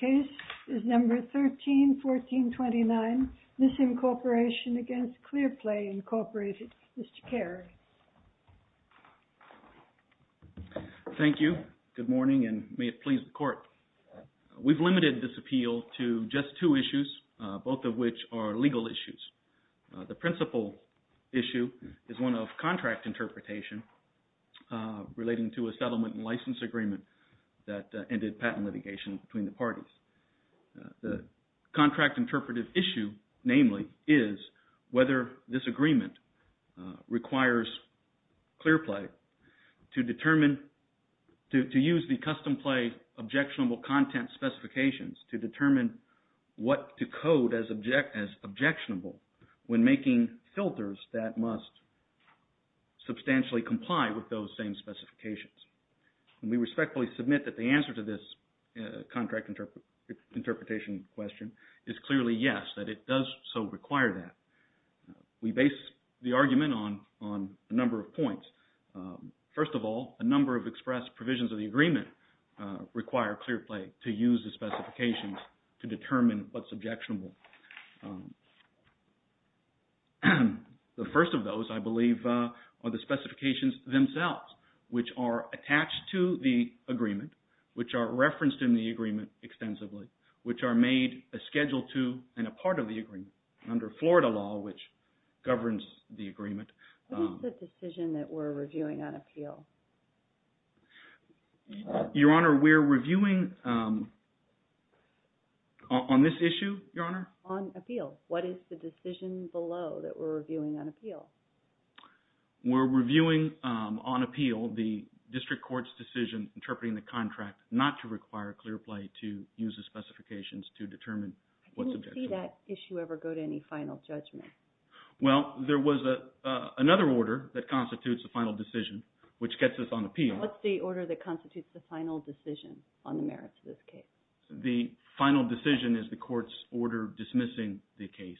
Case is No. 13-1429, Missim Corporation v. Clearplay, Inc., Mr. Carey. Thank you. Good morning, and may it please the Court. We've limited this appeal to just two issues, both of which are legal issues. The principal issue is one of contract interpretation relating to a settlement and license agreement that ended patent litigation between the parties. The contract interpretive issue, namely, is whether this agreement requires Clearplay to determine, to use the custom play objectionable content specifications to determine what to code as objectionable when making filters that must substantially comply with those same specifications. We respectfully submit that the answer to this contract interpretation question is clearly yes, that it does so require that. We base the argument on a number of points. First of all, a number of express provisions of the agreement require Clearplay to use the specifications to determine what's objectionable. The first of those, I believe, are the specifications themselves, which are attached to the agreement, which are referenced in the agreement extensively, which are made a Schedule II and a part of the agreement under Florida law, which governs the agreement. What is the decision that we're reviewing on appeal? Your Honor, we're reviewing on this issue, Your Honor? On appeal. What is the decision below that we're reviewing on appeal? We're reviewing on appeal the district court's decision interpreting the contract not to require Clearplay to use the specifications to determine what's objectionable. I didn't see that issue ever go to any final judgment. Well, there was another order that constitutes the final decision, which gets us on appeal. What's the order that constitutes the final decision on the merits of this case? The final decision is the court's order dismissing the case.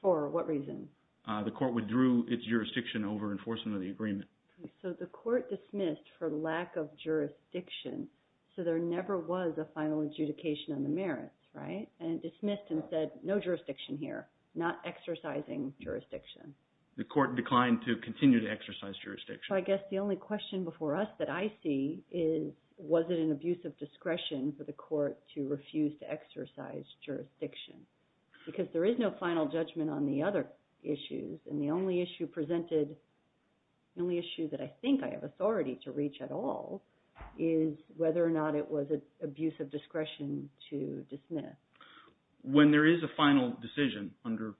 For what reason? The court withdrew its jurisdiction over enforcement of the agreement. So the court dismissed for lack of jurisdiction, so there never was a final adjudication on the merits, right? And it dismissed and said, no jurisdiction here, not exercising jurisdiction. The court declined to continue to exercise jurisdiction. I guess the only question before us that I see is, was it an abuse of discretion for the court to refuse to exercise jurisdiction? Because there is no final judgment on the other issues. And the only issue presented, the only issue that I think I have authority to reach at all, is whether or not it was an abuse of discretion to dismiss. When there is a final decision under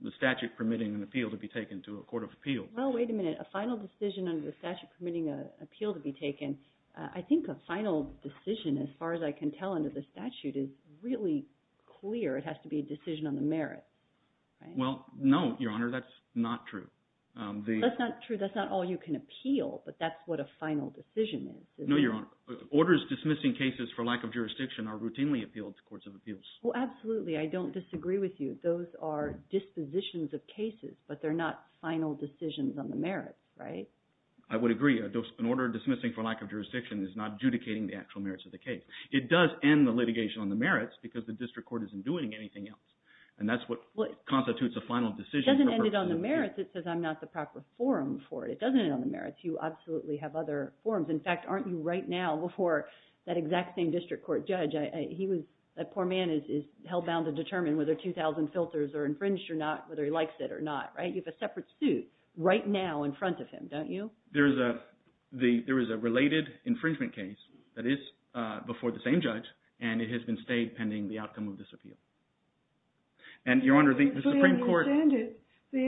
the statute permitting an appeal to be taken to a court of appeal. Well, wait a minute. A final decision under the statute permitting an appeal to be taken. I think a final decision, as far as I can tell under the statute, is really clear. It has to be a decision on the merits. Well, no, Your Honor, that's not true. That's not true. That's not all you can appeal, but that's what a final decision is. No, Your Honor. Orders dismissing cases for lack of jurisdiction are routinely appealed to courts of abuse. Well, absolutely. I don't disagree with you. Those are dispositions of cases, but they're not final decisions on the merits, right? I would agree. An order dismissing for lack of jurisdiction is not adjudicating the actual merits of the case. It does end the litigation on the merits because the district court isn't doing anything else. And that's what constitutes a final decision. It doesn't end it on the merits. It says I'm not the proper forum for it. It doesn't end it on the merits. You absolutely have other forums. In fact, aren't you right now before that exact same district court judge? That poor man is hell bound to determine whether 2,000 filters are infringed or not, whether he likes it or not, right? You have a separate suit right now in front of him, don't you? There is a related infringement case that is before the same judge, and it has been stayed pending the outcome of this appeal. And, Your Honor, the Supreme Court— They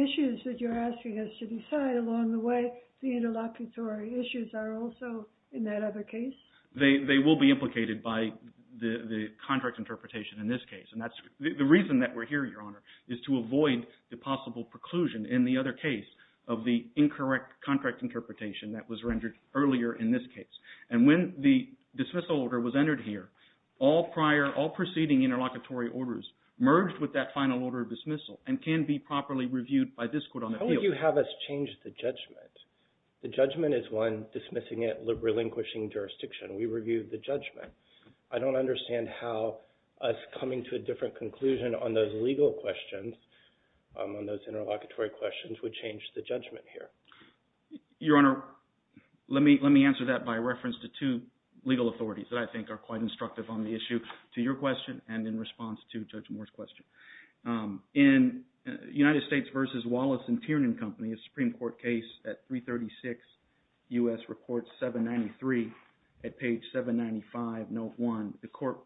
will be implicated by the contract interpretation in this case. And that's the reason that we're here, Your Honor, is to avoid the possible preclusion in the other case of the incorrect contract interpretation that was rendered earlier in this case. And when the dismissal order was entered here, all prior, all preceding interlocutory orders merged with that final order of dismissal and can be properly reviewed by this court on the field. How would you have us change the judgment? The judgment is one dismissing it relinquishing jurisdiction. We review the judgment. I don't understand how us coming to a different conclusion on those legal questions, on those interlocutory questions, would change the judgment here. Your Honor, let me answer that by reference to two legal authorities that I think are quite instructive on the issue to your question and in response to Judge Moore's question. In United States v. Wallace and Tiernan Company, a Supreme Court case at 336 U.S. Report 793 at page 795, note 1, the court,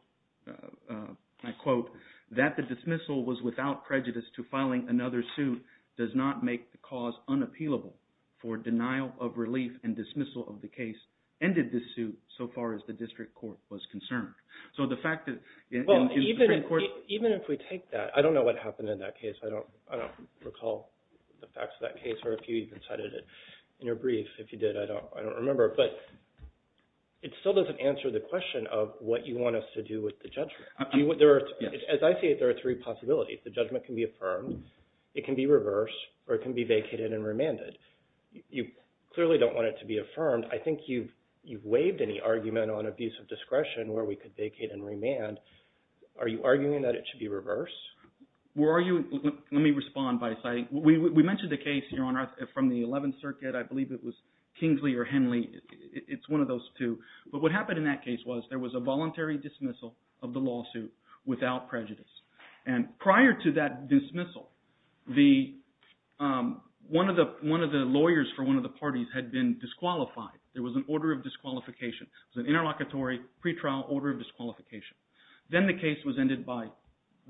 and I quote, that the dismissal was without prejudice to filing another suit does not make the cause unappealable for denial of relief and dismissal of the case ended the suit so far as the district court was concerned. Even if we take that, I don't know what happened in that case. I don't recall the facts of that case or if you even cited it in your brief. If you did, I don't remember, but it still doesn't answer the question of what you want us to do with the judgment. As I see it, there are three possibilities. The judgment can be affirmed, it can be reversed, or it can be vacated and remanded. You clearly don't want it to be affirmed. I think you've waived any argument on abuse of discretion where we could vacate and remand. Are you arguing that it should be reversed? Let me respond by citing – we mentioned the case, Your Honor, from the 11th Circuit. I believe it was Kingsley or Henley. It's one of those two. But what happened in that case was there was a voluntary dismissal of the lawsuit without prejudice. And prior to that dismissal, one of the lawyers for one of the parties had been disqualified. There was an order of disqualification. It was an interlocutory pretrial order of disqualification. Then the case was ended by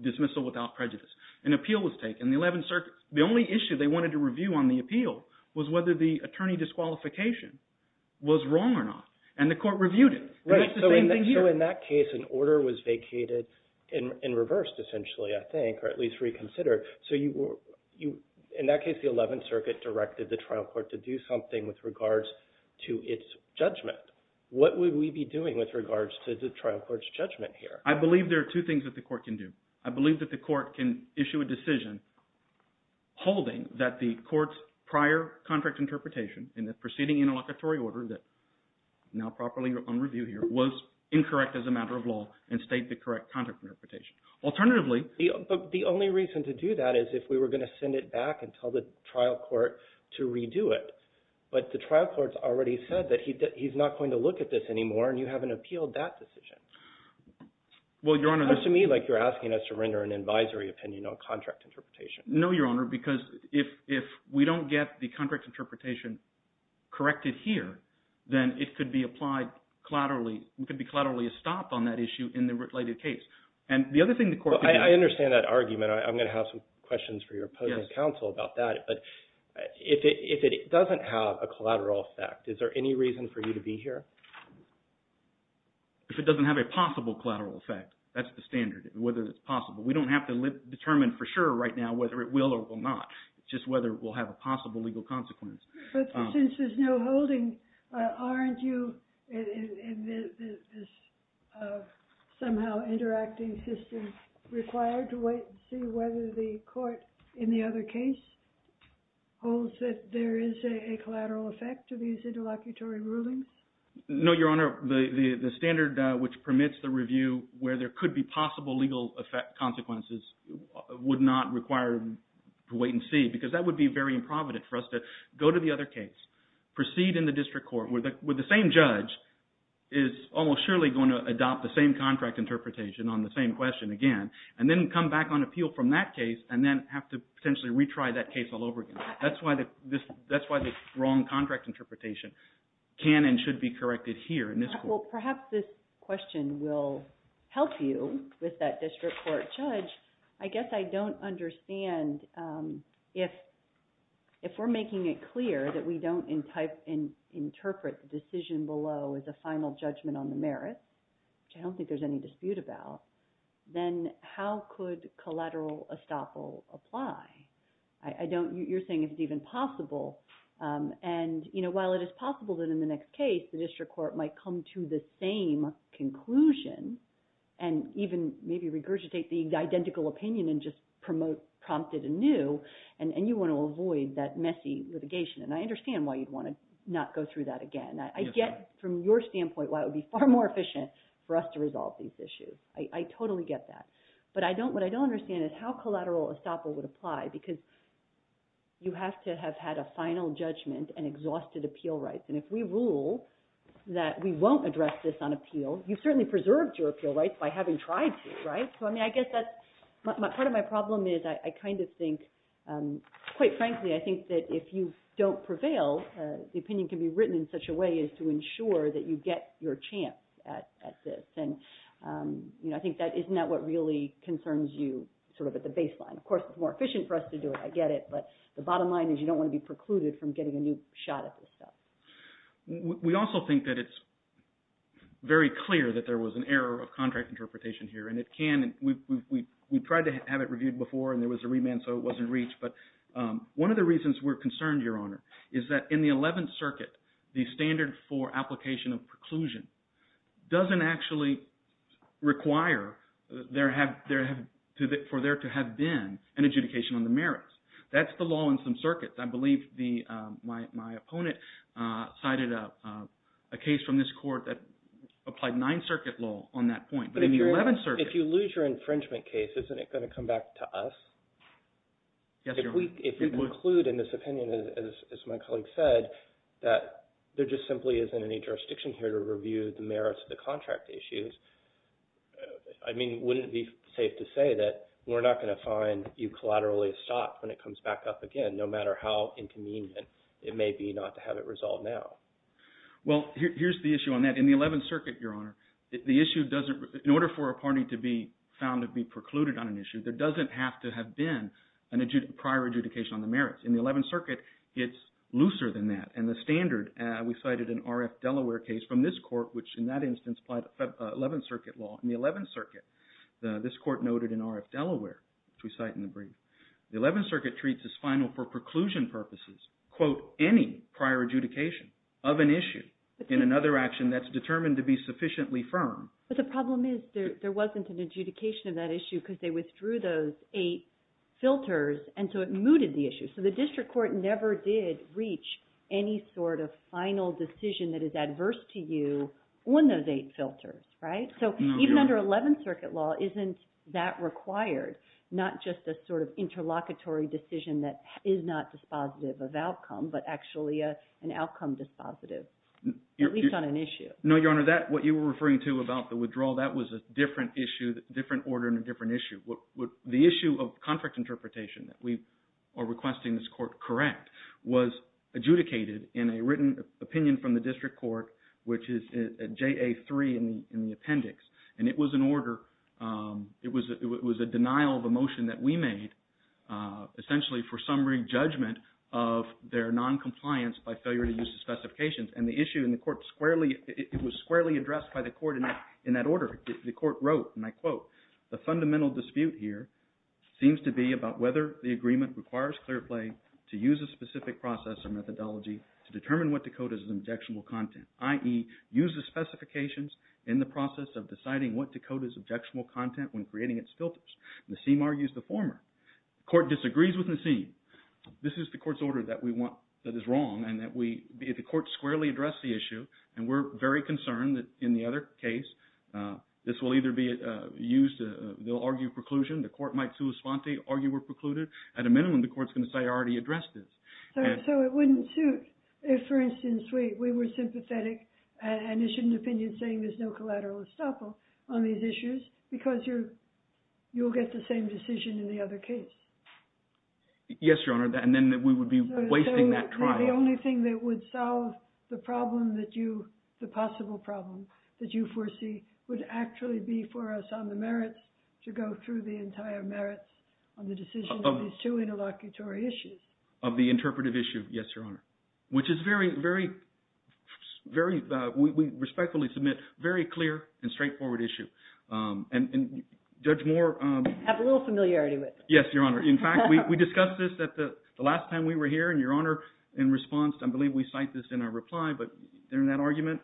dismissal without prejudice. An appeal was taken. The only issue they wanted to review on the appeal was whether the attorney disqualification was wrong or not. And the court reviewed it. So in that case, an order was vacated and reversed essentially, I think, or at least reconsidered. So in that case, the 11th Circuit directed the trial court to do something with regards to its judgment. What would we be doing with regards to the trial court's judgment here? I believe there are two things that the court can do. I believe that the court can issue a decision holding that the court's prior contract interpretation in the proceeding interlocutory order that is now properly on review here was incorrect as a matter of law and state the correct contract interpretation. Alternatively— But the only reason to do that is if we were going to send it back and tell the trial court to redo it. But the trial court has already said that he's not going to look at this anymore, and you haven't appealed that decision. Well, Your Honor— It sounds to me like you're asking us to render an advisory opinion on contract interpretation. No, Your Honor, because if we don't get the contract interpretation corrected here, then it could be applied collaterally—it could be collaterally stopped on that issue in the related case. And the other thing the court— Well, I understand that argument. I'm going to have some questions for your opposing counsel about that. But if it doesn't have a collateral effect, is there any reason for you to be here? If it doesn't have a possible collateral effect, that's the standard, whether it's possible. We don't have to determine for sure right now whether it will or will not. It's just whether it will have a possible legal consequence. But since there's no holding, aren't you, in this somehow interacting system, required to wait and see whether the court in the other case holds that there is a collateral effect to these interlocutory rulings? No, Your Honor. The standard which permits the review where there could be possible legal consequences would not require to wait and see because that would be very improvident for us to go to the other case, proceed in the district court where the same judge is almost surely going to adopt the same contract interpretation on the same question again, and then come back on appeal from that case and then have to potentially retry that case all over again. That's why the wrong contract interpretation can and should be corrected here in this court. Well, perhaps this question will help you with that district court judge. I guess I don't understand if we're making it clear that we don't interpret the decision below as a final judgment on the merit, which I don't think there's any dispute about, then how could collateral estoppel apply? You're saying it's even possible. And while it is possible that in the next case the district court might come to the same conclusion and even maybe regurgitate the identical opinion and just promote prompted anew, and you want to avoid that messy litigation. And I understand why you'd want to not go through that again. I get from your standpoint why it would be far more efficient for us to resolve these issues. I totally get that. But what I don't understand is how collateral estoppel would apply, because you have to have had a final judgment and exhausted appeal rights. And if we rule that we won't address this on appeal, you've certainly preserved your appeal rights by having tried to, right? So, I mean, I guess part of my problem is I kind of think, quite frankly, I think that if you don't prevail, the opinion can be written in such a way as to ensure that you get your chance at this. And, you know, I think isn't that what really concerns you sort of at the baseline? Of course, it's more efficient for us to do it. I get it. But the bottom line is you don't want to be precluded from getting a new shot at this stuff. We also think that it's very clear that there was an error of contract interpretation here, and it can. We tried to have it reviewed before, and there was a remand, so it wasn't reached. But one of the reasons we're concerned, Your Honor, is that in the Eleventh Circuit, the standard for application of preclusion doesn't actually require for there to have been an adjudication on the merits. That's the law in some circuits. I believe my opponent cited a case from this court that applied Ninth Circuit law on that point. But in the Eleventh Circuit – If you lose your infringement case, isn't it going to come back to us? Yes, Your Honor. If we conclude in this opinion, as my colleague said, that there just simply isn't any jurisdiction here to review the merits of the contract issues, I mean, wouldn't it be safe to say that we're not going to find you collaterally stopped when it comes back up again, no matter how inconvenient it may be not to have it resolved now? Well, here's the issue on that. In the Eleventh Circuit, Your Honor, the issue doesn't – in order for a party to be found to be precluded on an issue, there doesn't have to have been a prior adjudication on the merits. In the Eleventh Circuit, it's looser than that. And the standard – we cited an R.F. Delaware case from this court, which in that instance applied Eleventh Circuit law. In the Eleventh Circuit, this court noted in R.F. Delaware, which we cite in the brief, the Eleventh Circuit treats as final for preclusion purposes, quote, any prior adjudication of an issue in another action that's determined to be sufficiently firm. But the problem is there wasn't an adjudication of that issue because they withdrew those eight filters, and so it mooted the issue. So the district court never did reach any sort of final decision that is adverse to you on those eight filters, right? So even under Eleventh Circuit law, isn't that required, not just a sort of interlocutory decision that is not dispositive of outcome, but actually an outcome dispositive, at least on an issue? No, Your Honor, that – what you were referring to about the withdrawal, that was a different issue, different order and a different issue. The issue of contract interpretation that we are requesting this court correct was adjudicated in a written opinion from the district court, which is JA-3 in the appendix. And it was an order – it was a denial of a motion that we made essentially for summary judgment of their noncompliance by failure to use the specifications. And the issue in the court squarely – it was squarely addressed by the court in that order. The court wrote, and I quote, the fundamental dispute here seems to be about whether the agreement requires clear play to use a specific process or methodology to determine what to code as an objectionable content, i.e. use the specifications in the process of deciding what to code as objectionable content when creating its filters. Nassim argues the former. The court disagrees with Nassim. This is the court's order that we want – that is wrong and that we – the court squarely addressed the issue. And we're very concerned that in the other case, this will either be used – they'll argue preclusion. The court might, sua sponte, argue we're precluded. At a minimum, the court's going to say I already addressed this. So it wouldn't suit if, for instance, we were sympathetic and issued an opinion saying there's no collateral estoppel on these issues because you'll get the same decision in the other case? Yes, Your Honor, and then we would be wasting that trial. So the only thing that would solve the problem that you – the possible problem that you foresee would actually be for us on the merits to go through the entire merits on the decision of these two interlocutory issues? Of the interpretive issue, yes, Your Honor, which is very, very – we respectfully submit very clear and straightforward issue. And Judge Moore… I have a little familiarity with it. Yes, Your Honor. In fact, we discussed this the last time we were here, and Your Honor, in response, I believe we cite this in our reply, but in that argument,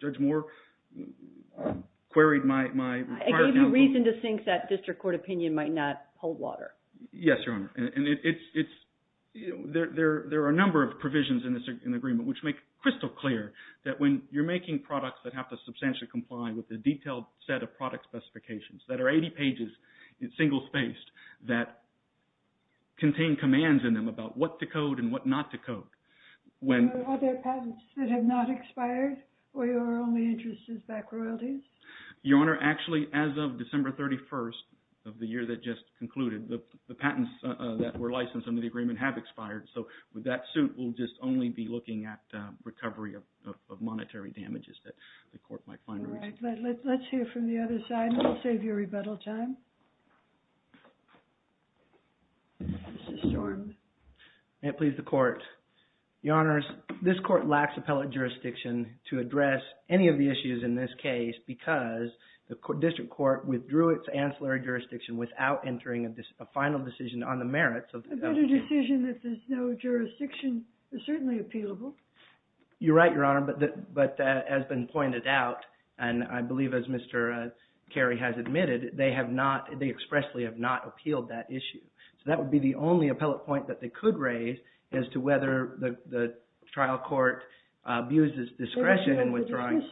Judge Moore queried my prior counsel. I gave you reason to think that district court opinion might not hold water. Yes, Your Honor, and it's – there are a number of provisions in this agreement which make crystal clear that when you're making products that have to substantially comply with the detailed set of product specifications that are 80 pages, single-spaced, that contain commands in them about what to code and what not to code. Are there patents that have not expired, or your only interest is back royalties? Your Honor, actually, as of December 31st of the year that just concluded, the patents that were licensed under the agreement have expired. So that suit will just only be looking at recovery of monetary damages that the court might find reasonable. All right, let's hear from the other side, and we'll save you rebuttal time. Mr. Storms. May it please the Court. Your Honors, this court lacks appellate jurisdiction to address any of the issues in this case because the district court withdrew its ancillary jurisdiction without entering a final decision on the merits of… A better decision if there's no jurisdiction is certainly appealable. You're right, Your Honor, but as has been pointed out, and I believe as Mr. Carey has admitted, they have not – they expressly have not appealed that issue. So that would be the only appellate point that they could raise as to whether the trial court abuses discretion in withdrawing…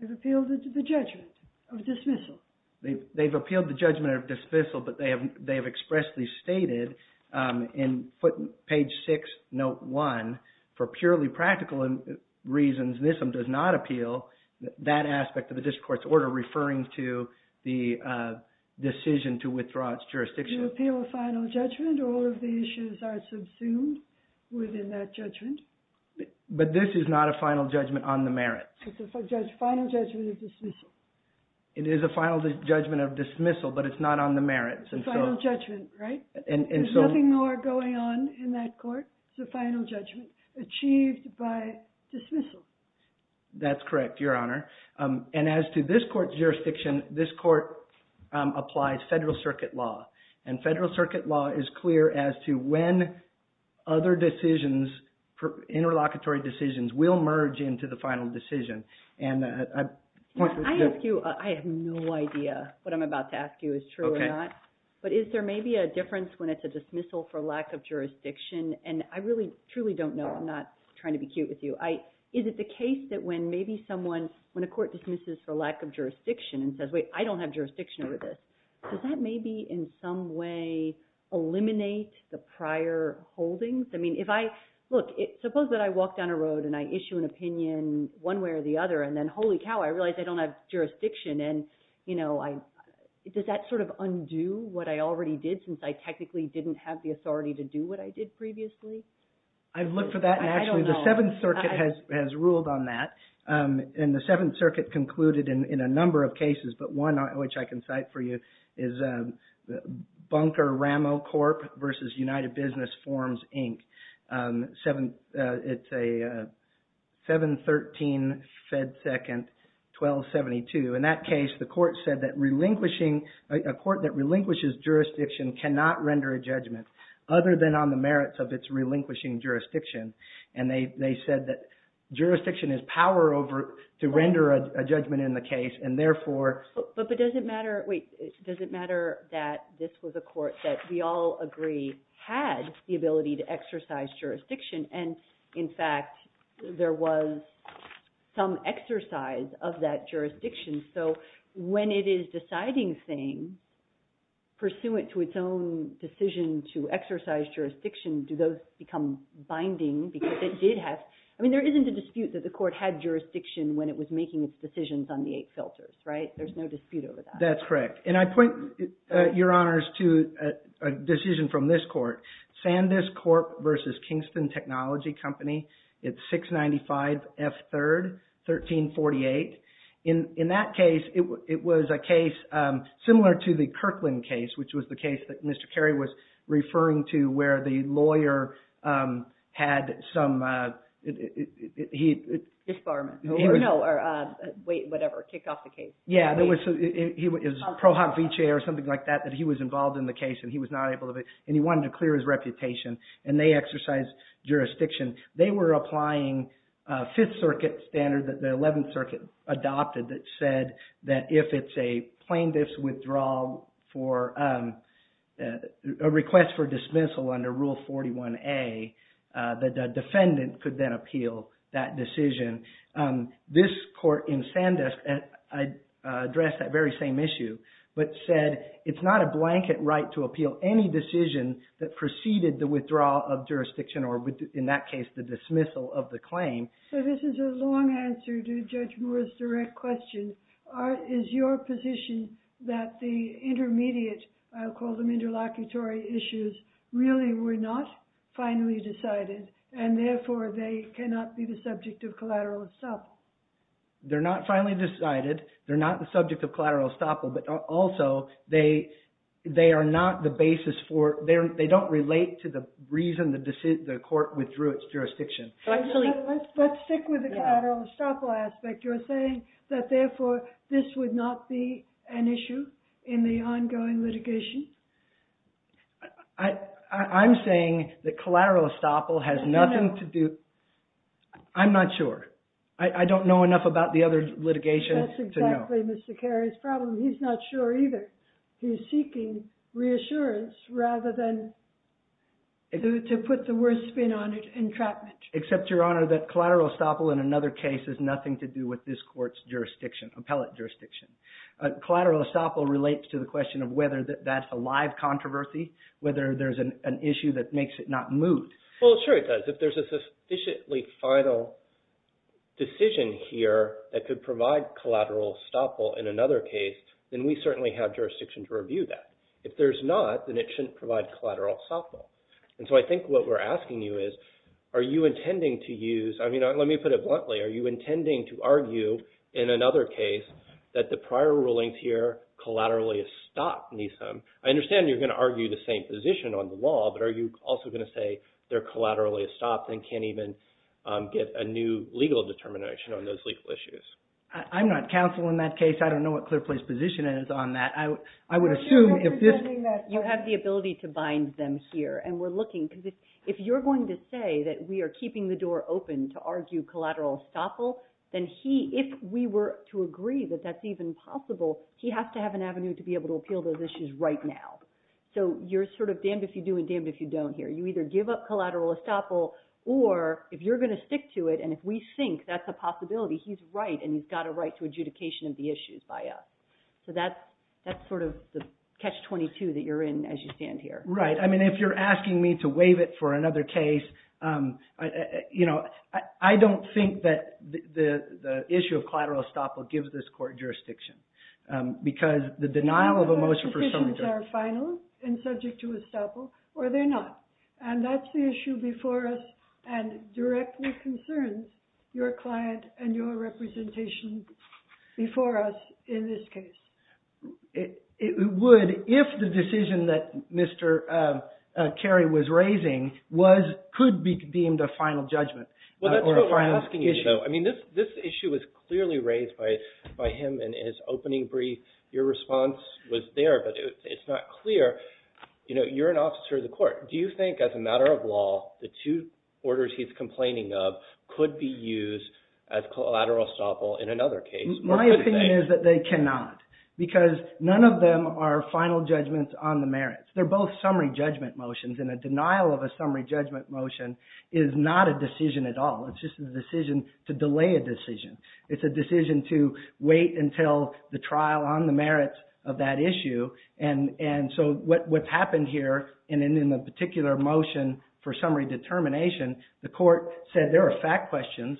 They've appealed the judgment of dismissal. They've appealed the judgment of dismissal, but they have expressly stated in page 6, note 1, for purely practical reasons, NISM does not appeal that aspect of the district court's order referring to the decision to withdraw its jurisdiction. You appeal a final judgment or all of the issues are subsumed within that judgment? But this is not a final judgment on the merits. It's a final judgment of dismissal. It is a final judgment of dismissal, but it's not on the merits. It's a final judgment, right? And so… There's nothing more going on in that court. It's a final judgment achieved by dismissal. That's correct, Your Honor. And as to this court's jurisdiction, this court applies federal circuit law. And federal circuit law is clear as to when other decisions, interlocutory decisions, will merge into the final decision. I have no idea what I'm about to ask you is true or not. But is there maybe a difference when it's a dismissal for lack of jurisdiction? And I really truly don't know. I'm not trying to be cute with you. Is it the case that when maybe someone, when a court dismisses for lack of jurisdiction and says, wait, I don't have jurisdiction over this, does that maybe in some way eliminate the prior holdings? I mean, if I… Look, suppose that I walk down a road and I issue an opinion one way or the other, and then holy cow, I realize I don't have jurisdiction. And, you know, does that sort of undo what I already did since I technically didn't have the authority to do what I did previously? I've looked for that. I don't know. And actually, the Seventh Circuit has ruled on that. And the Seventh Circuit concluded in a number of cases, but one which I can cite for you is Bunker-Ramo Corp. v. United Business Forms, Inc. It's a 713 Fed Second 1272. In that case, the court said that relinquishing, a court that relinquishes jurisdiction cannot render a judgment other than on the merits of its relinquishing jurisdiction. And they said that jurisdiction is power over to render a judgment in the case, and therefore… But does it matter – wait. Does it matter that this was a court that we all agree had the ability to exercise jurisdiction, and in fact, there was some exercise of that jurisdiction? So when it is deciding things, pursuant to its own decision to exercise jurisdiction, do those become binding? Because it did have – I mean, there isn't a dispute that the court had jurisdiction when it was making its decisions on the eight filters, right? There's no dispute over that. That's correct. And I point, Your Honors, to a decision from this court, Sandisk Corp. v. Kingston Technology Company. It's 695 F. 3rd 1348. In that case, it was a case similar to the Kirkland case, which was the case that Mr. Carey was referring to where the lawyer had some… Disbarment. No, wait, whatever. Kick off the case. Yeah. It was Prohob Viche or something like that that he was involved in the case, and he was not able to… And he wanted to clear his reputation, and they exercised jurisdiction. They were applying Fifth Circuit standards that the Eleventh Circuit adopted that said that if it's a plaintiff's withdrawal for a request for dismissal under Rule 41A, the defendant could then appeal that decision. This court in Sandisk addressed that very same issue, but said it's not a blanket right to appeal any decision that preceded the withdrawal of jurisdiction or, in that case, the dismissal of the claim. So this is a long answer to Judge Moore's direct question. Is your position that the intermediate, I'll call them interlocutory issues, really were not finally decided, and therefore they cannot be the subject of collateral estoppel? They're not finally decided. They're not the subject of collateral estoppel, but also they are not the basis for… They don't relate to the reason the court withdrew its jurisdiction. Let's stick with the collateral estoppel aspect. You're saying that, therefore, this would not be an issue in the ongoing litigation? I'm saying that collateral estoppel has nothing to do… I'm not sure. I don't know enough about the other litigation to know. That's exactly Mr. Carey's problem. He's not sure either. He's seeking reassurance rather than to put the worst spin on it, entrapment. Except, Your Honor, that collateral estoppel in another case has nothing to do with this court's jurisdiction, appellate jurisdiction. Collateral estoppel relates to the question of whether that's a live controversy, whether there's an issue that makes it not move. Well, sure it does. If there's a sufficiently final decision here that could provide collateral estoppel in another case, then we certainly have jurisdiction to review that. If there's not, then it shouldn't provide collateral estoppel. And so I think what we're asking you is, are you intending to use – I mean, let me put it bluntly. Are you intending to argue in another case that the prior rulings here collaterally estopped NISM? I understand you're going to argue the same position on the law, but are you also going to say they're collaterally estopped and can't even get a new legal determination on those legal issues? I'm not counsel in that case. I don't know what clear place position is on that. You have the ability to bind them here, and we're looking – because if you're going to say that we are keeping the door open to argue collateral estoppel, then if we were to agree that that's even possible, he has to have an avenue to be able to appeal those issues right now. So you're sort of damned if you do and damned if you don't here. You either give up collateral estoppel, or if you're going to stick to it and if we think that's a possibility, he's right and he's got a right to adjudication of the issues by us. So that's sort of the catch-22 that you're in as you stand here. Right. I mean, if you're asking me to waive it for another case, you know, I don't think that the issue of collateral estoppel gives this court jurisdiction, because the denial of a motion for some reason – Do you think those decisions are final and subject to estoppel, or are they not? And that's the issue before us and directly concerns your client and your representation before us in this case. It would if the decision that Mr. Carey was raising was – could be deemed a final judgment or a final issue. I mean, this issue was clearly raised by him in his opening brief. Your response was there, but it's not clear. You know, you're an officer of the court. Do you think as a matter of law, the two orders he's complaining of could be used as collateral estoppel in another case? My opinion is that they cannot, because none of them are final judgments on the merits. They're both summary judgment motions, and a denial of a summary judgment motion is not a decision at all. It's just a decision to delay a decision. It's a decision to wait until the trial on the merits of that issue. And so what's happened here, and in the particular motion for summary determination, the court said there are fact questions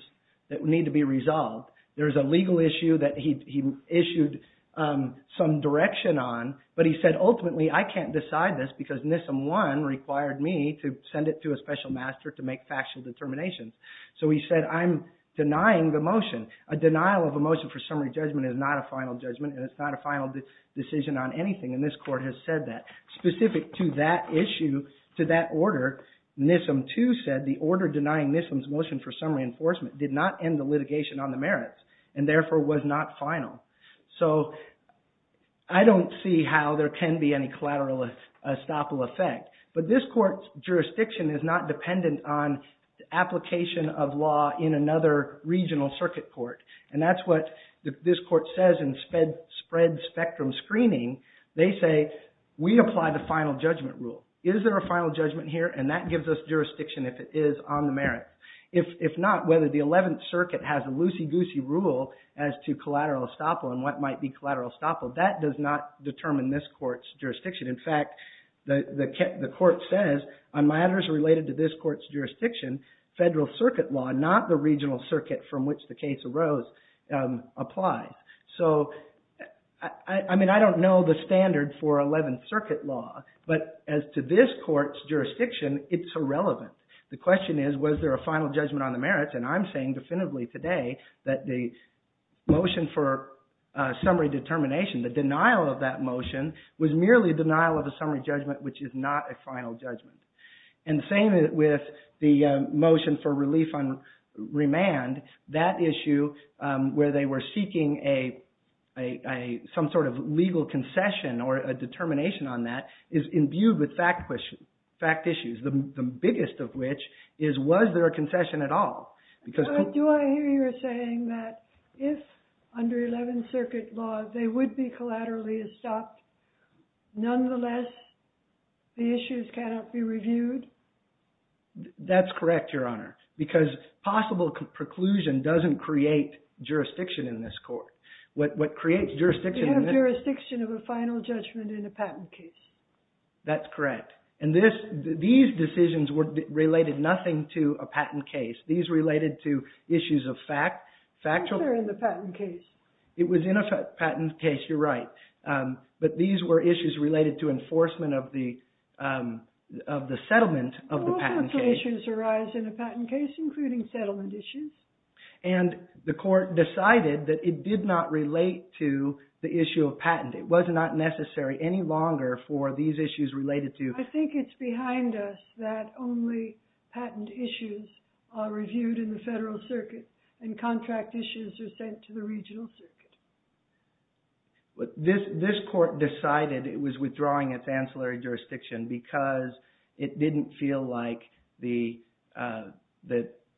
that need to be resolved. There's a legal issue that he issued some direction on, but he said ultimately I can't decide this, because NISM-1 required me to send it to a special master to make factual determinations. So he said I'm denying the motion. A denial of a motion for summary judgment is not a final judgment, and it's not a final decision on anything, and this court has said that. Specific to that issue, to that order, NISM-2 said the order denying NISM's motion for summary enforcement did not end the litigation on the merits, and therefore was not final. So I don't see how there can be any collateral estoppel effect. But this court's jurisdiction is not dependent on application of law in another regional circuit court, and that's what this court says in spread spectrum screening. They say we apply the final judgment rule. Is there a final judgment here? And that gives us jurisdiction if it is on the merit. If not, whether the 11th Circuit has a loosey-goosey rule as to collateral estoppel and what might be collateral estoppel, that does not determine this court's jurisdiction. In fact, the court says on matters related to this court's jurisdiction, federal circuit law, not the regional circuit from which the case arose, applies. So, I mean, I don't know the standard for 11th Circuit law, but as to this court's jurisdiction, it's irrelevant. The question is was there a final judgment on the merits, and I'm saying definitively today that the motion for summary determination, the denial of that motion, was merely denial of a summary judgment, which is not a final judgment. And the same with the motion for relief on remand. That issue where they were seeking some sort of legal concession or a determination on that is imbued with fact issues, the biggest of which is was there a concession at all? Do I hear you saying that if, under 11th Circuit law, they would be collaterally estopped, nonetheless the issues cannot be reviewed? That's correct, Your Honor, because possible preclusion doesn't create jurisdiction in this court. What creates jurisdiction... You have jurisdiction of a final judgment in a patent case. That's correct. And these decisions related nothing to a patent case. These related to issues of fact. These were in the patent case. It was in a patent case, you're right. But these were issues related to enforcement of the settlement of the patent case. All sorts of issues arise in a patent case, including settlement issues. And the court decided that it did not relate to the issue of patent. It was not necessary any longer for these issues related to... I think it's behind us that only patent issues are reviewed in the federal circuit and contract issues are sent to the regional circuit. This court decided it was withdrawing its ancillary jurisdiction because it didn't feel like the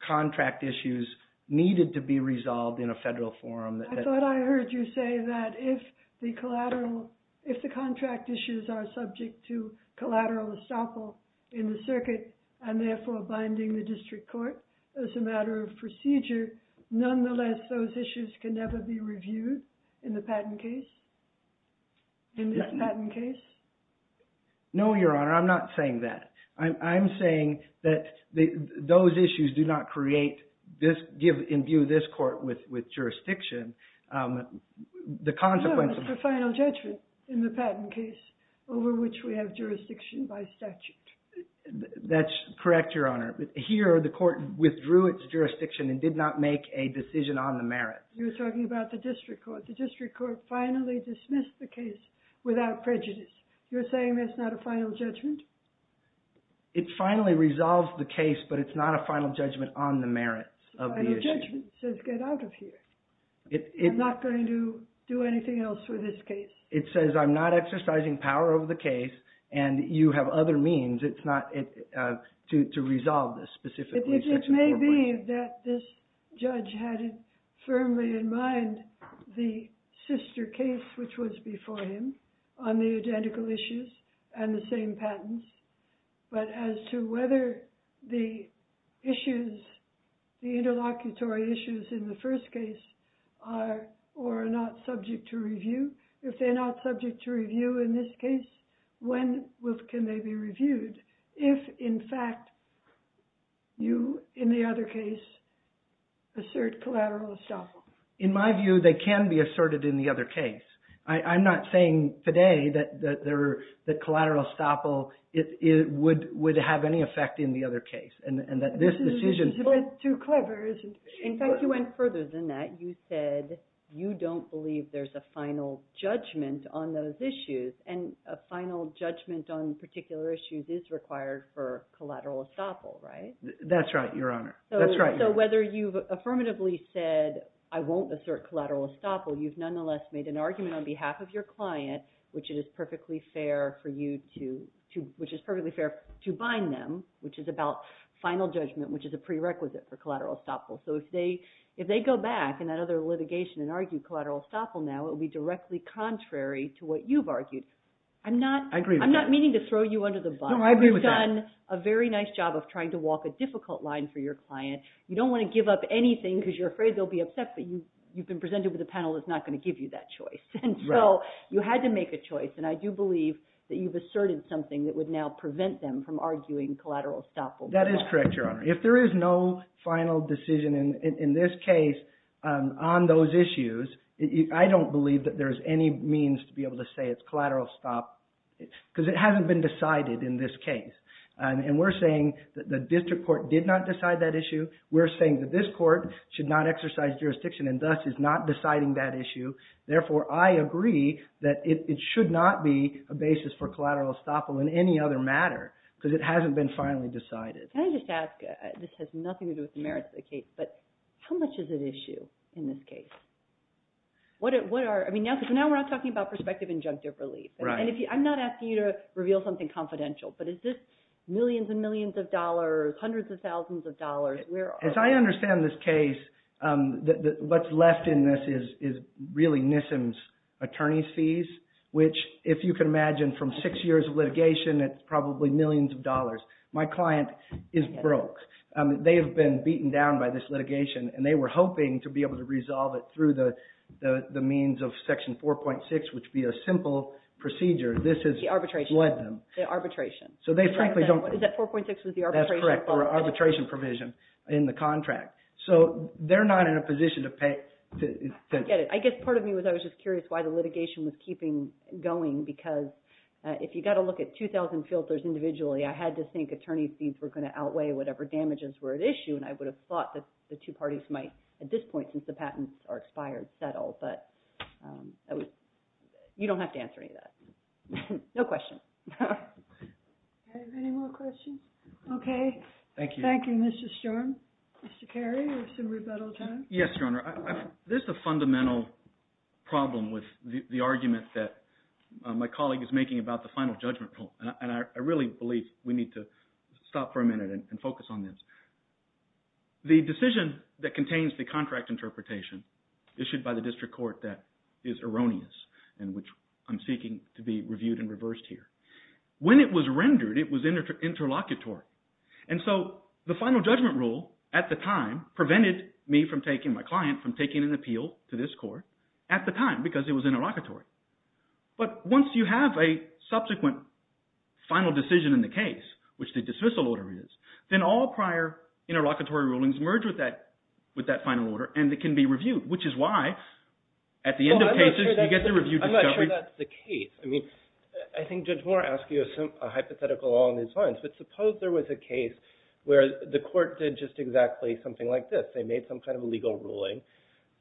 contract issues needed to be resolved in a federal forum. I thought I heard you say that if the contract issues are subject to collateral estoppel in the circuit and therefore binding the district court as a matter of procedure, nonetheless those issues can never be reviewed in the patent case? In this patent case? No, Your Honor, I'm not saying that. I'm saying that those issues do not create, imbue this court with jurisdiction. No, it's the final judgment in the patent case over which we have jurisdiction by statute. That's correct, Your Honor. Here the court withdrew its jurisdiction and did not make a decision on the merit. You're talking about the district court. The district court finally dismissed the case without prejudice. You're saying that's not a final judgment? It finally resolved the case, but it's not a final judgment on the merits of the issue. It's a final judgment. It says get out of here. I'm not going to do anything else with this case. It says I'm not exercising power over the case and you have other means. It's not to resolve this specifically. It may be that this judge had firmly in mind the sister case, which was before him, on the identical issues and the same patents, but as to whether the issues, the interlocutory issues in the first case, are or are not subject to review. If they're not subject to review in this case, when can they be reviewed? If, in fact, you, in the other case, assert collateral estoppel. In my view, they can be asserted in the other case. I'm not saying today that collateral estoppel would have any effect in the other case. This is a little bit too clever, isn't it? In fact, you went further than that. You said you don't believe there's a final judgment on those issues, and a final judgment on particular issues is required for collateral estoppel, right? That's right, Your Honor. So whether you've affirmatively said, I won't assert collateral estoppel, you've nonetheless made an argument on behalf of your client, which is perfectly fair to bind them, which is about final judgment, which is a prerequisite for collateral estoppel. So if they go back in that other litigation and argue collateral estoppel now, it would be directly contrary to what you've argued. I'm not meaning to throw you under the bus. You've done a very nice job of trying to walk a difficult line for your client. You don't want to give up anything because you're afraid they'll be upset, but you've been presented with a panel that's not going to give you that choice. So you had to make a choice, and I do believe that you've asserted something that would now prevent them from arguing collateral estoppel. That is correct, Your Honor. If there is no final decision in this case on those issues, I don't believe that there's any means to be able to say it's collateral estoppel because it hasn't been decided in this case. And we're saying that the district court did not decide that issue. We're saying that this court should not exercise jurisdiction and thus is not deciding that issue. Therefore, I agree that it should not be a basis for collateral estoppel in any other matter because it hasn't been finally decided. Can I just ask? This has nothing to do with the merits of the case, but how much is at issue in this case? Because now we're not talking about prospective injunctive relief. I'm not asking you to reveal something confidential, but is this millions and millions of dollars, hundreds of thousands of dollars? As I understand this case, what's left in this is really NISM's attorney's fees, which if you can imagine from six years of litigation, it's probably millions of dollars. My client is broke. They have been beaten down by this litigation, and they were hoping to be able to resolve it through the means of Section 4.6, which would be a simple procedure. This has led them. The arbitration. So they frankly don't care. Is that 4.6 was the arbitration? That's correct. The arbitration provision in the contract. So they're not in a position to pay. I get it. I guess part of me was I was just curious why the litigation was keeping going because if you've got to look at 2,000 filters individually, I had to think attorney's fees were going to outweigh whatever damages were at issue, and I would have thought that the two parties might at this point since the patents are expired settle. But you don't have to answer any of that. No question. Any more questions? Okay. Thank you. Thank you, Mr. Stern. Mr. Carey, you have some rebuttal time. Yes, Your Honor. There's a fundamental problem with the argument that my colleague is making about the final judgment, and I really believe we need to stop for a minute and focus on this. The decision that contains the contract interpretation issued by the district court that is erroneous and which I'm seeking to be reviewed and reversed here, when it was rendered, it was interlocutory. And so the final judgment rule at the time prevented me from taking my client from taking an appeal to this court at the time because it was interlocutory. But once you have a subsequent final decision in the case, which the dismissal order is, then all prior interlocutory rulings merge with that final order and it can be reviewed, which is why at the end of cases you get the reviewed discovery. I'm not sure that's the case. I think Judge Moore asked you a hypothetical along these lines, but suppose there was a case where the court did just exactly something like this. They made some kind of a legal ruling,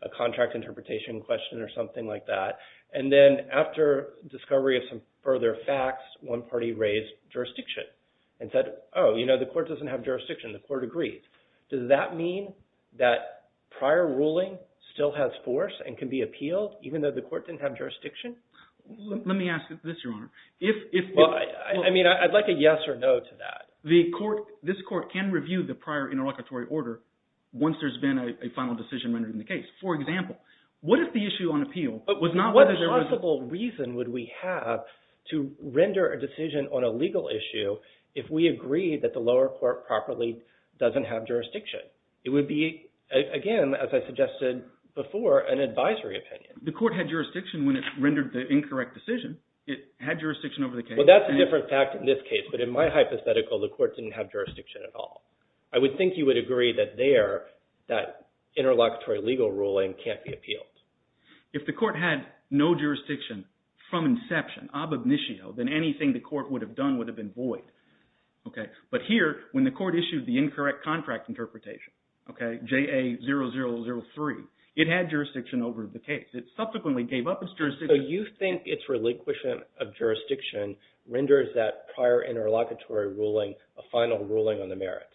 a contract interpretation question or something like that, and then after discovery of some further facts, one party raised jurisdiction and said, oh, you know, the court doesn't have jurisdiction. The court agreed. Does that mean that prior ruling still has force and can be appealed even though the court didn't have jurisdiction? Let me ask this, Your Honor. I mean, I'd like a yes or no to that. This court can review the prior interlocutory order once there's been a final decision rendered in the case. For example, what if the issue on appeal was not whether there was… What possible reason would we have to render a decision on a legal issue if we agree that the lower court properly doesn't have jurisdiction? It would be, again, as I suggested before, an advisory opinion. The court had jurisdiction when it rendered the incorrect decision. It had jurisdiction over the case. Well, that's a different fact in this case, but in my hypothetical the court didn't have jurisdiction at all. I would think you would agree that there, that interlocutory legal ruling can't be appealed. If the court had no jurisdiction from inception, ab initio, then anything the court would have done would have been void. But here, when the court issued the incorrect contract interpretation, JA-0003, it had jurisdiction over the case. It subsequently gave up its jurisdiction. So you think its relinquishment of jurisdiction renders that prior interlocutory ruling a final ruling on the merits?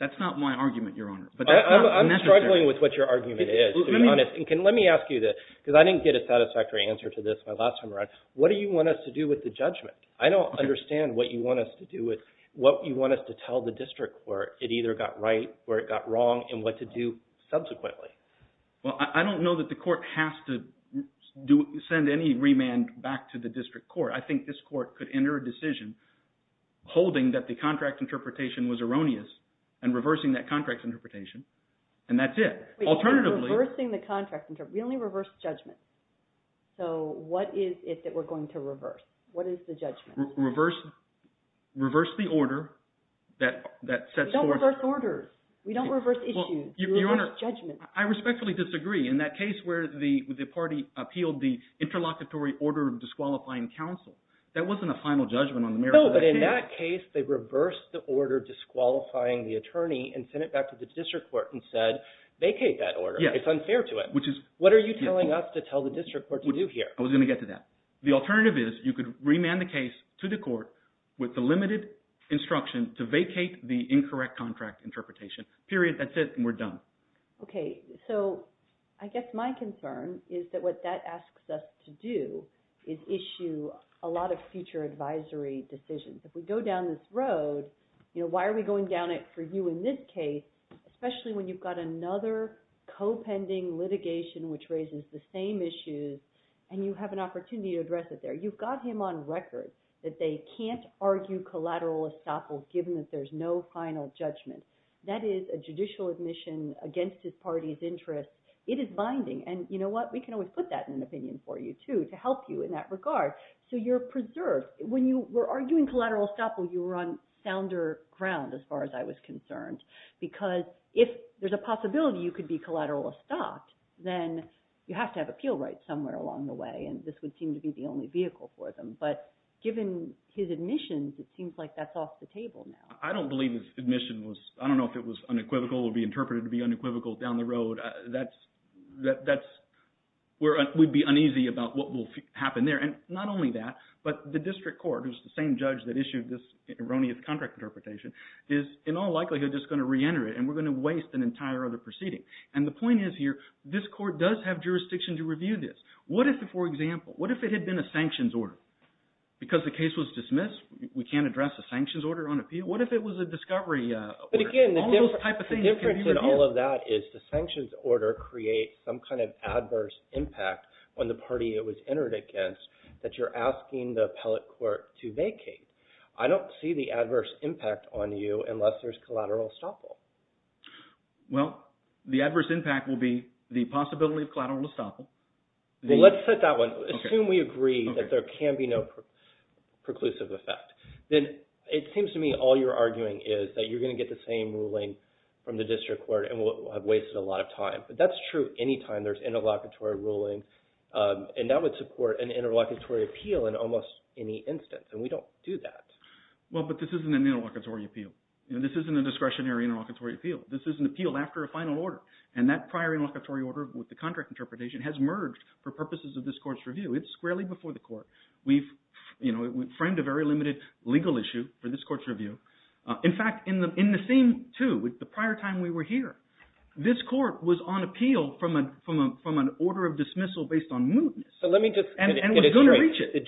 That's not my argument, Your Honor, but that's not necessary. I'm struggling with what your argument is, to be honest. And let me ask you this, because I didn't get a satisfactory answer to this my last time around. What do you want us to do with the judgment? I don't understand what you want us to do with, what you want us to tell the district court, it either got right or it got wrong, and what to do subsequently. Well, I don't know that the court has to send any remand back to the district court. I think this court could enter a decision holding that the contract interpretation was erroneous and reversing that contract interpretation, and that's it. Wait, reversing the contract interpretation? We only reversed judgment. So what is it that we're going to reverse? What is the judgment? Reverse the order that sets forth… We don't reverse orders. We don't reverse issues. We reverse judgment. Your Honor, I respectfully disagree. In that case where the party appealed the interlocutory order of disqualifying counsel, that wasn't a final judgment on the merits of the case. No, but in that case they reversed the order disqualifying the attorney and sent it back to the district court and said, vacate that order. It's unfair to it. What are you telling us to tell the district court to do here? I was going to get to that. The alternative is you could remand the case to the court with the limited instruction to vacate the incorrect contract interpretation. Period. That's it, and we're done. Okay, so I guess my concern is that what that asks us to do is issue a lot of future advisory decisions. If we go down this road, why are we going down it for you in this case, especially when you've got another co-pending litigation which raises the same issues and you have an opportunity to address it there? You've got him on record that they can't argue collateral estoppel given that there's no final judgment. That is a judicial admission against his party's interest. It is binding, and you know what? We can always put that in an opinion for you too to help you in that regard. So you're preserved. When you were arguing collateral estoppel, you were on sounder ground as far as I was concerned because if there's a possibility you could be collateral estopped, then you have to have appeal rights somewhere along the way, and this would seem to be the only vehicle for them. But given his admissions, it seems like that's off the table now. I don't believe his admission was unequivocal. It would be interpreted to be unequivocal down the road. That's where we'd be uneasy about what will happen there. And not only that, but the district court, who's the same judge that issued this erroneous contract interpretation, is in all likelihood just going to reenter it, and we're going to waste an entire other proceeding. And the point is here, this court does have jurisdiction to review this. What if, for example, what if it had been a sanctions order? Because the case was dismissed, we can't address a sanctions order on appeal. What if it was a discovery order? Again, the difference in all of that is the sanctions order creates some kind of adverse impact on the party it was entered against that you're asking the appellate court to vacate. I don't see the adverse impact on you unless there's collateral estoppel. Well, the adverse impact will be the possibility of collateral estoppel. Well, let's set that one. Assume we agree that there can be no preclusive effect. Then it seems to me all you're arguing is that you're going to get the same ruling from the district court and we'll have wasted a lot of time. But that's true any time there's interlocutory ruling, and that would support an interlocutory appeal in almost any instance, and we don't do that. Well, but this isn't an interlocutory appeal. This isn't a discretionary interlocutory appeal. This is an appeal after a final order, and that prior interlocutory order with the contract interpretation It's squarely before the court. We've framed a very limited legal issue for this court's review. In fact, in the same two, the prior time we were here, this court was on appeal from an order of dismissal based on mootness, and was going to reach it.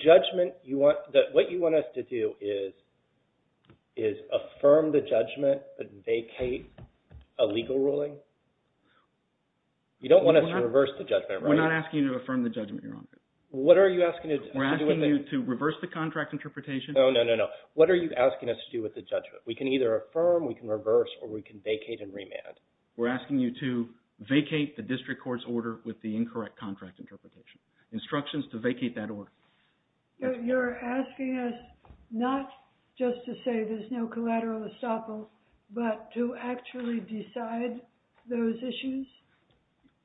What you want us to do is affirm the judgment and vacate a legal ruling? You don't want us to reverse the judgment, right? We're not asking you to affirm the judgment, Your Honor. We're asking you to reverse the contract interpretation? No, no, no, no. What are you asking us to do with the judgment? We can either affirm, we can reverse, or we can vacate and remand. We're asking you to vacate the district court's order with the incorrect contract interpretation. Instructions to vacate that order. You're asking us not just to say there's no collateral estoppel, but to actually decide those issues?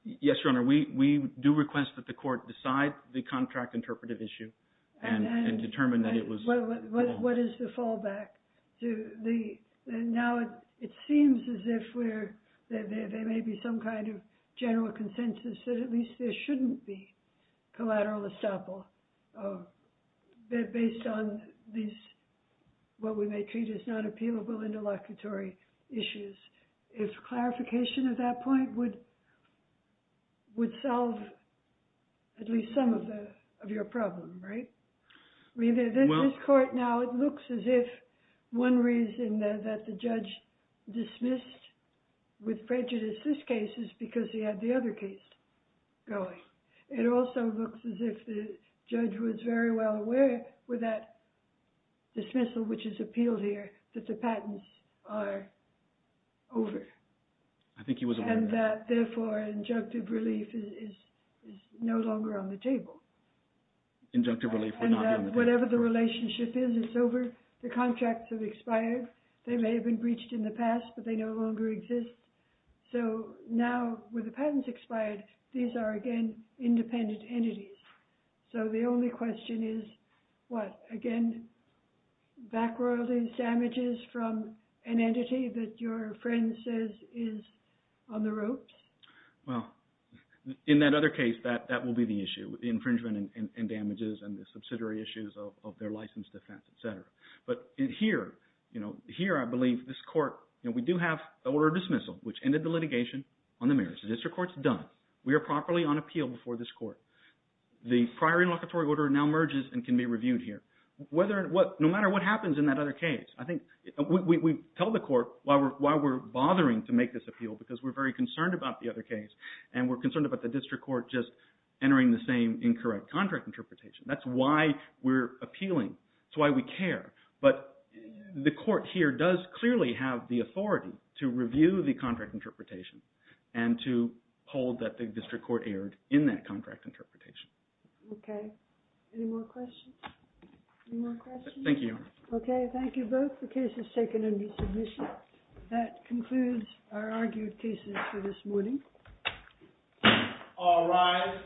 Yes, Your Honor. We do request that the court decide the contract interpretive issue and determine that it was wrong. What is the fallback? Now it seems as if there may be some kind of general consensus that at least there shouldn't be collateral estoppel based on these, what we may treat as not appealable interlocutory issues. If clarification of that point would solve at least some of your problem, right? In this court now, it looks as if one reason that the judge dismissed with prejudice this case is because he had the other case going. It also looks as if the judge was very well aware with that dismissal, which is appealed here, that the patents are over. I think he was aware of that. Therefore, injunctive relief is no longer on the table. Injunctive relief would not be on the table. Whatever the relationship is, it's over. The contracts have expired. They may have been breached in the past, but they no longer exist. Now, with the patents expired, these are, again, independent entities. So the only question is what? Again, back royalties, damages from an entity that your friend says is on the ropes? Well, in that other case, that will be the issue, the infringement and damages and the subsidiary issues of their license defense, et cetera. But here, I believe this court, we do have order of dismissal, which ended the litigation on the merits. The district court's done. We are properly on appeal before this court. The prior interlocutory order now merges and can be reviewed here. No matter what happens in that other case, I think we tell the court why we're bothering to make this appeal because we're very concerned about the other case and we're concerned about the district court just entering the same incorrect contract interpretation. That's why we're appealing. That's why we care. But the court here does clearly have the authority to review the contract interpretation and to hold that the district court erred in that contract interpretation. Okay. Any more questions? Any more questions? Thank you, Your Honor. Okay. Thank you both. The case is taken under submission. That concludes our argued cases for this morning. All rise.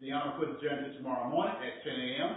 The Honor will adjourn until tomorrow morning at 10 a.m. Thank you.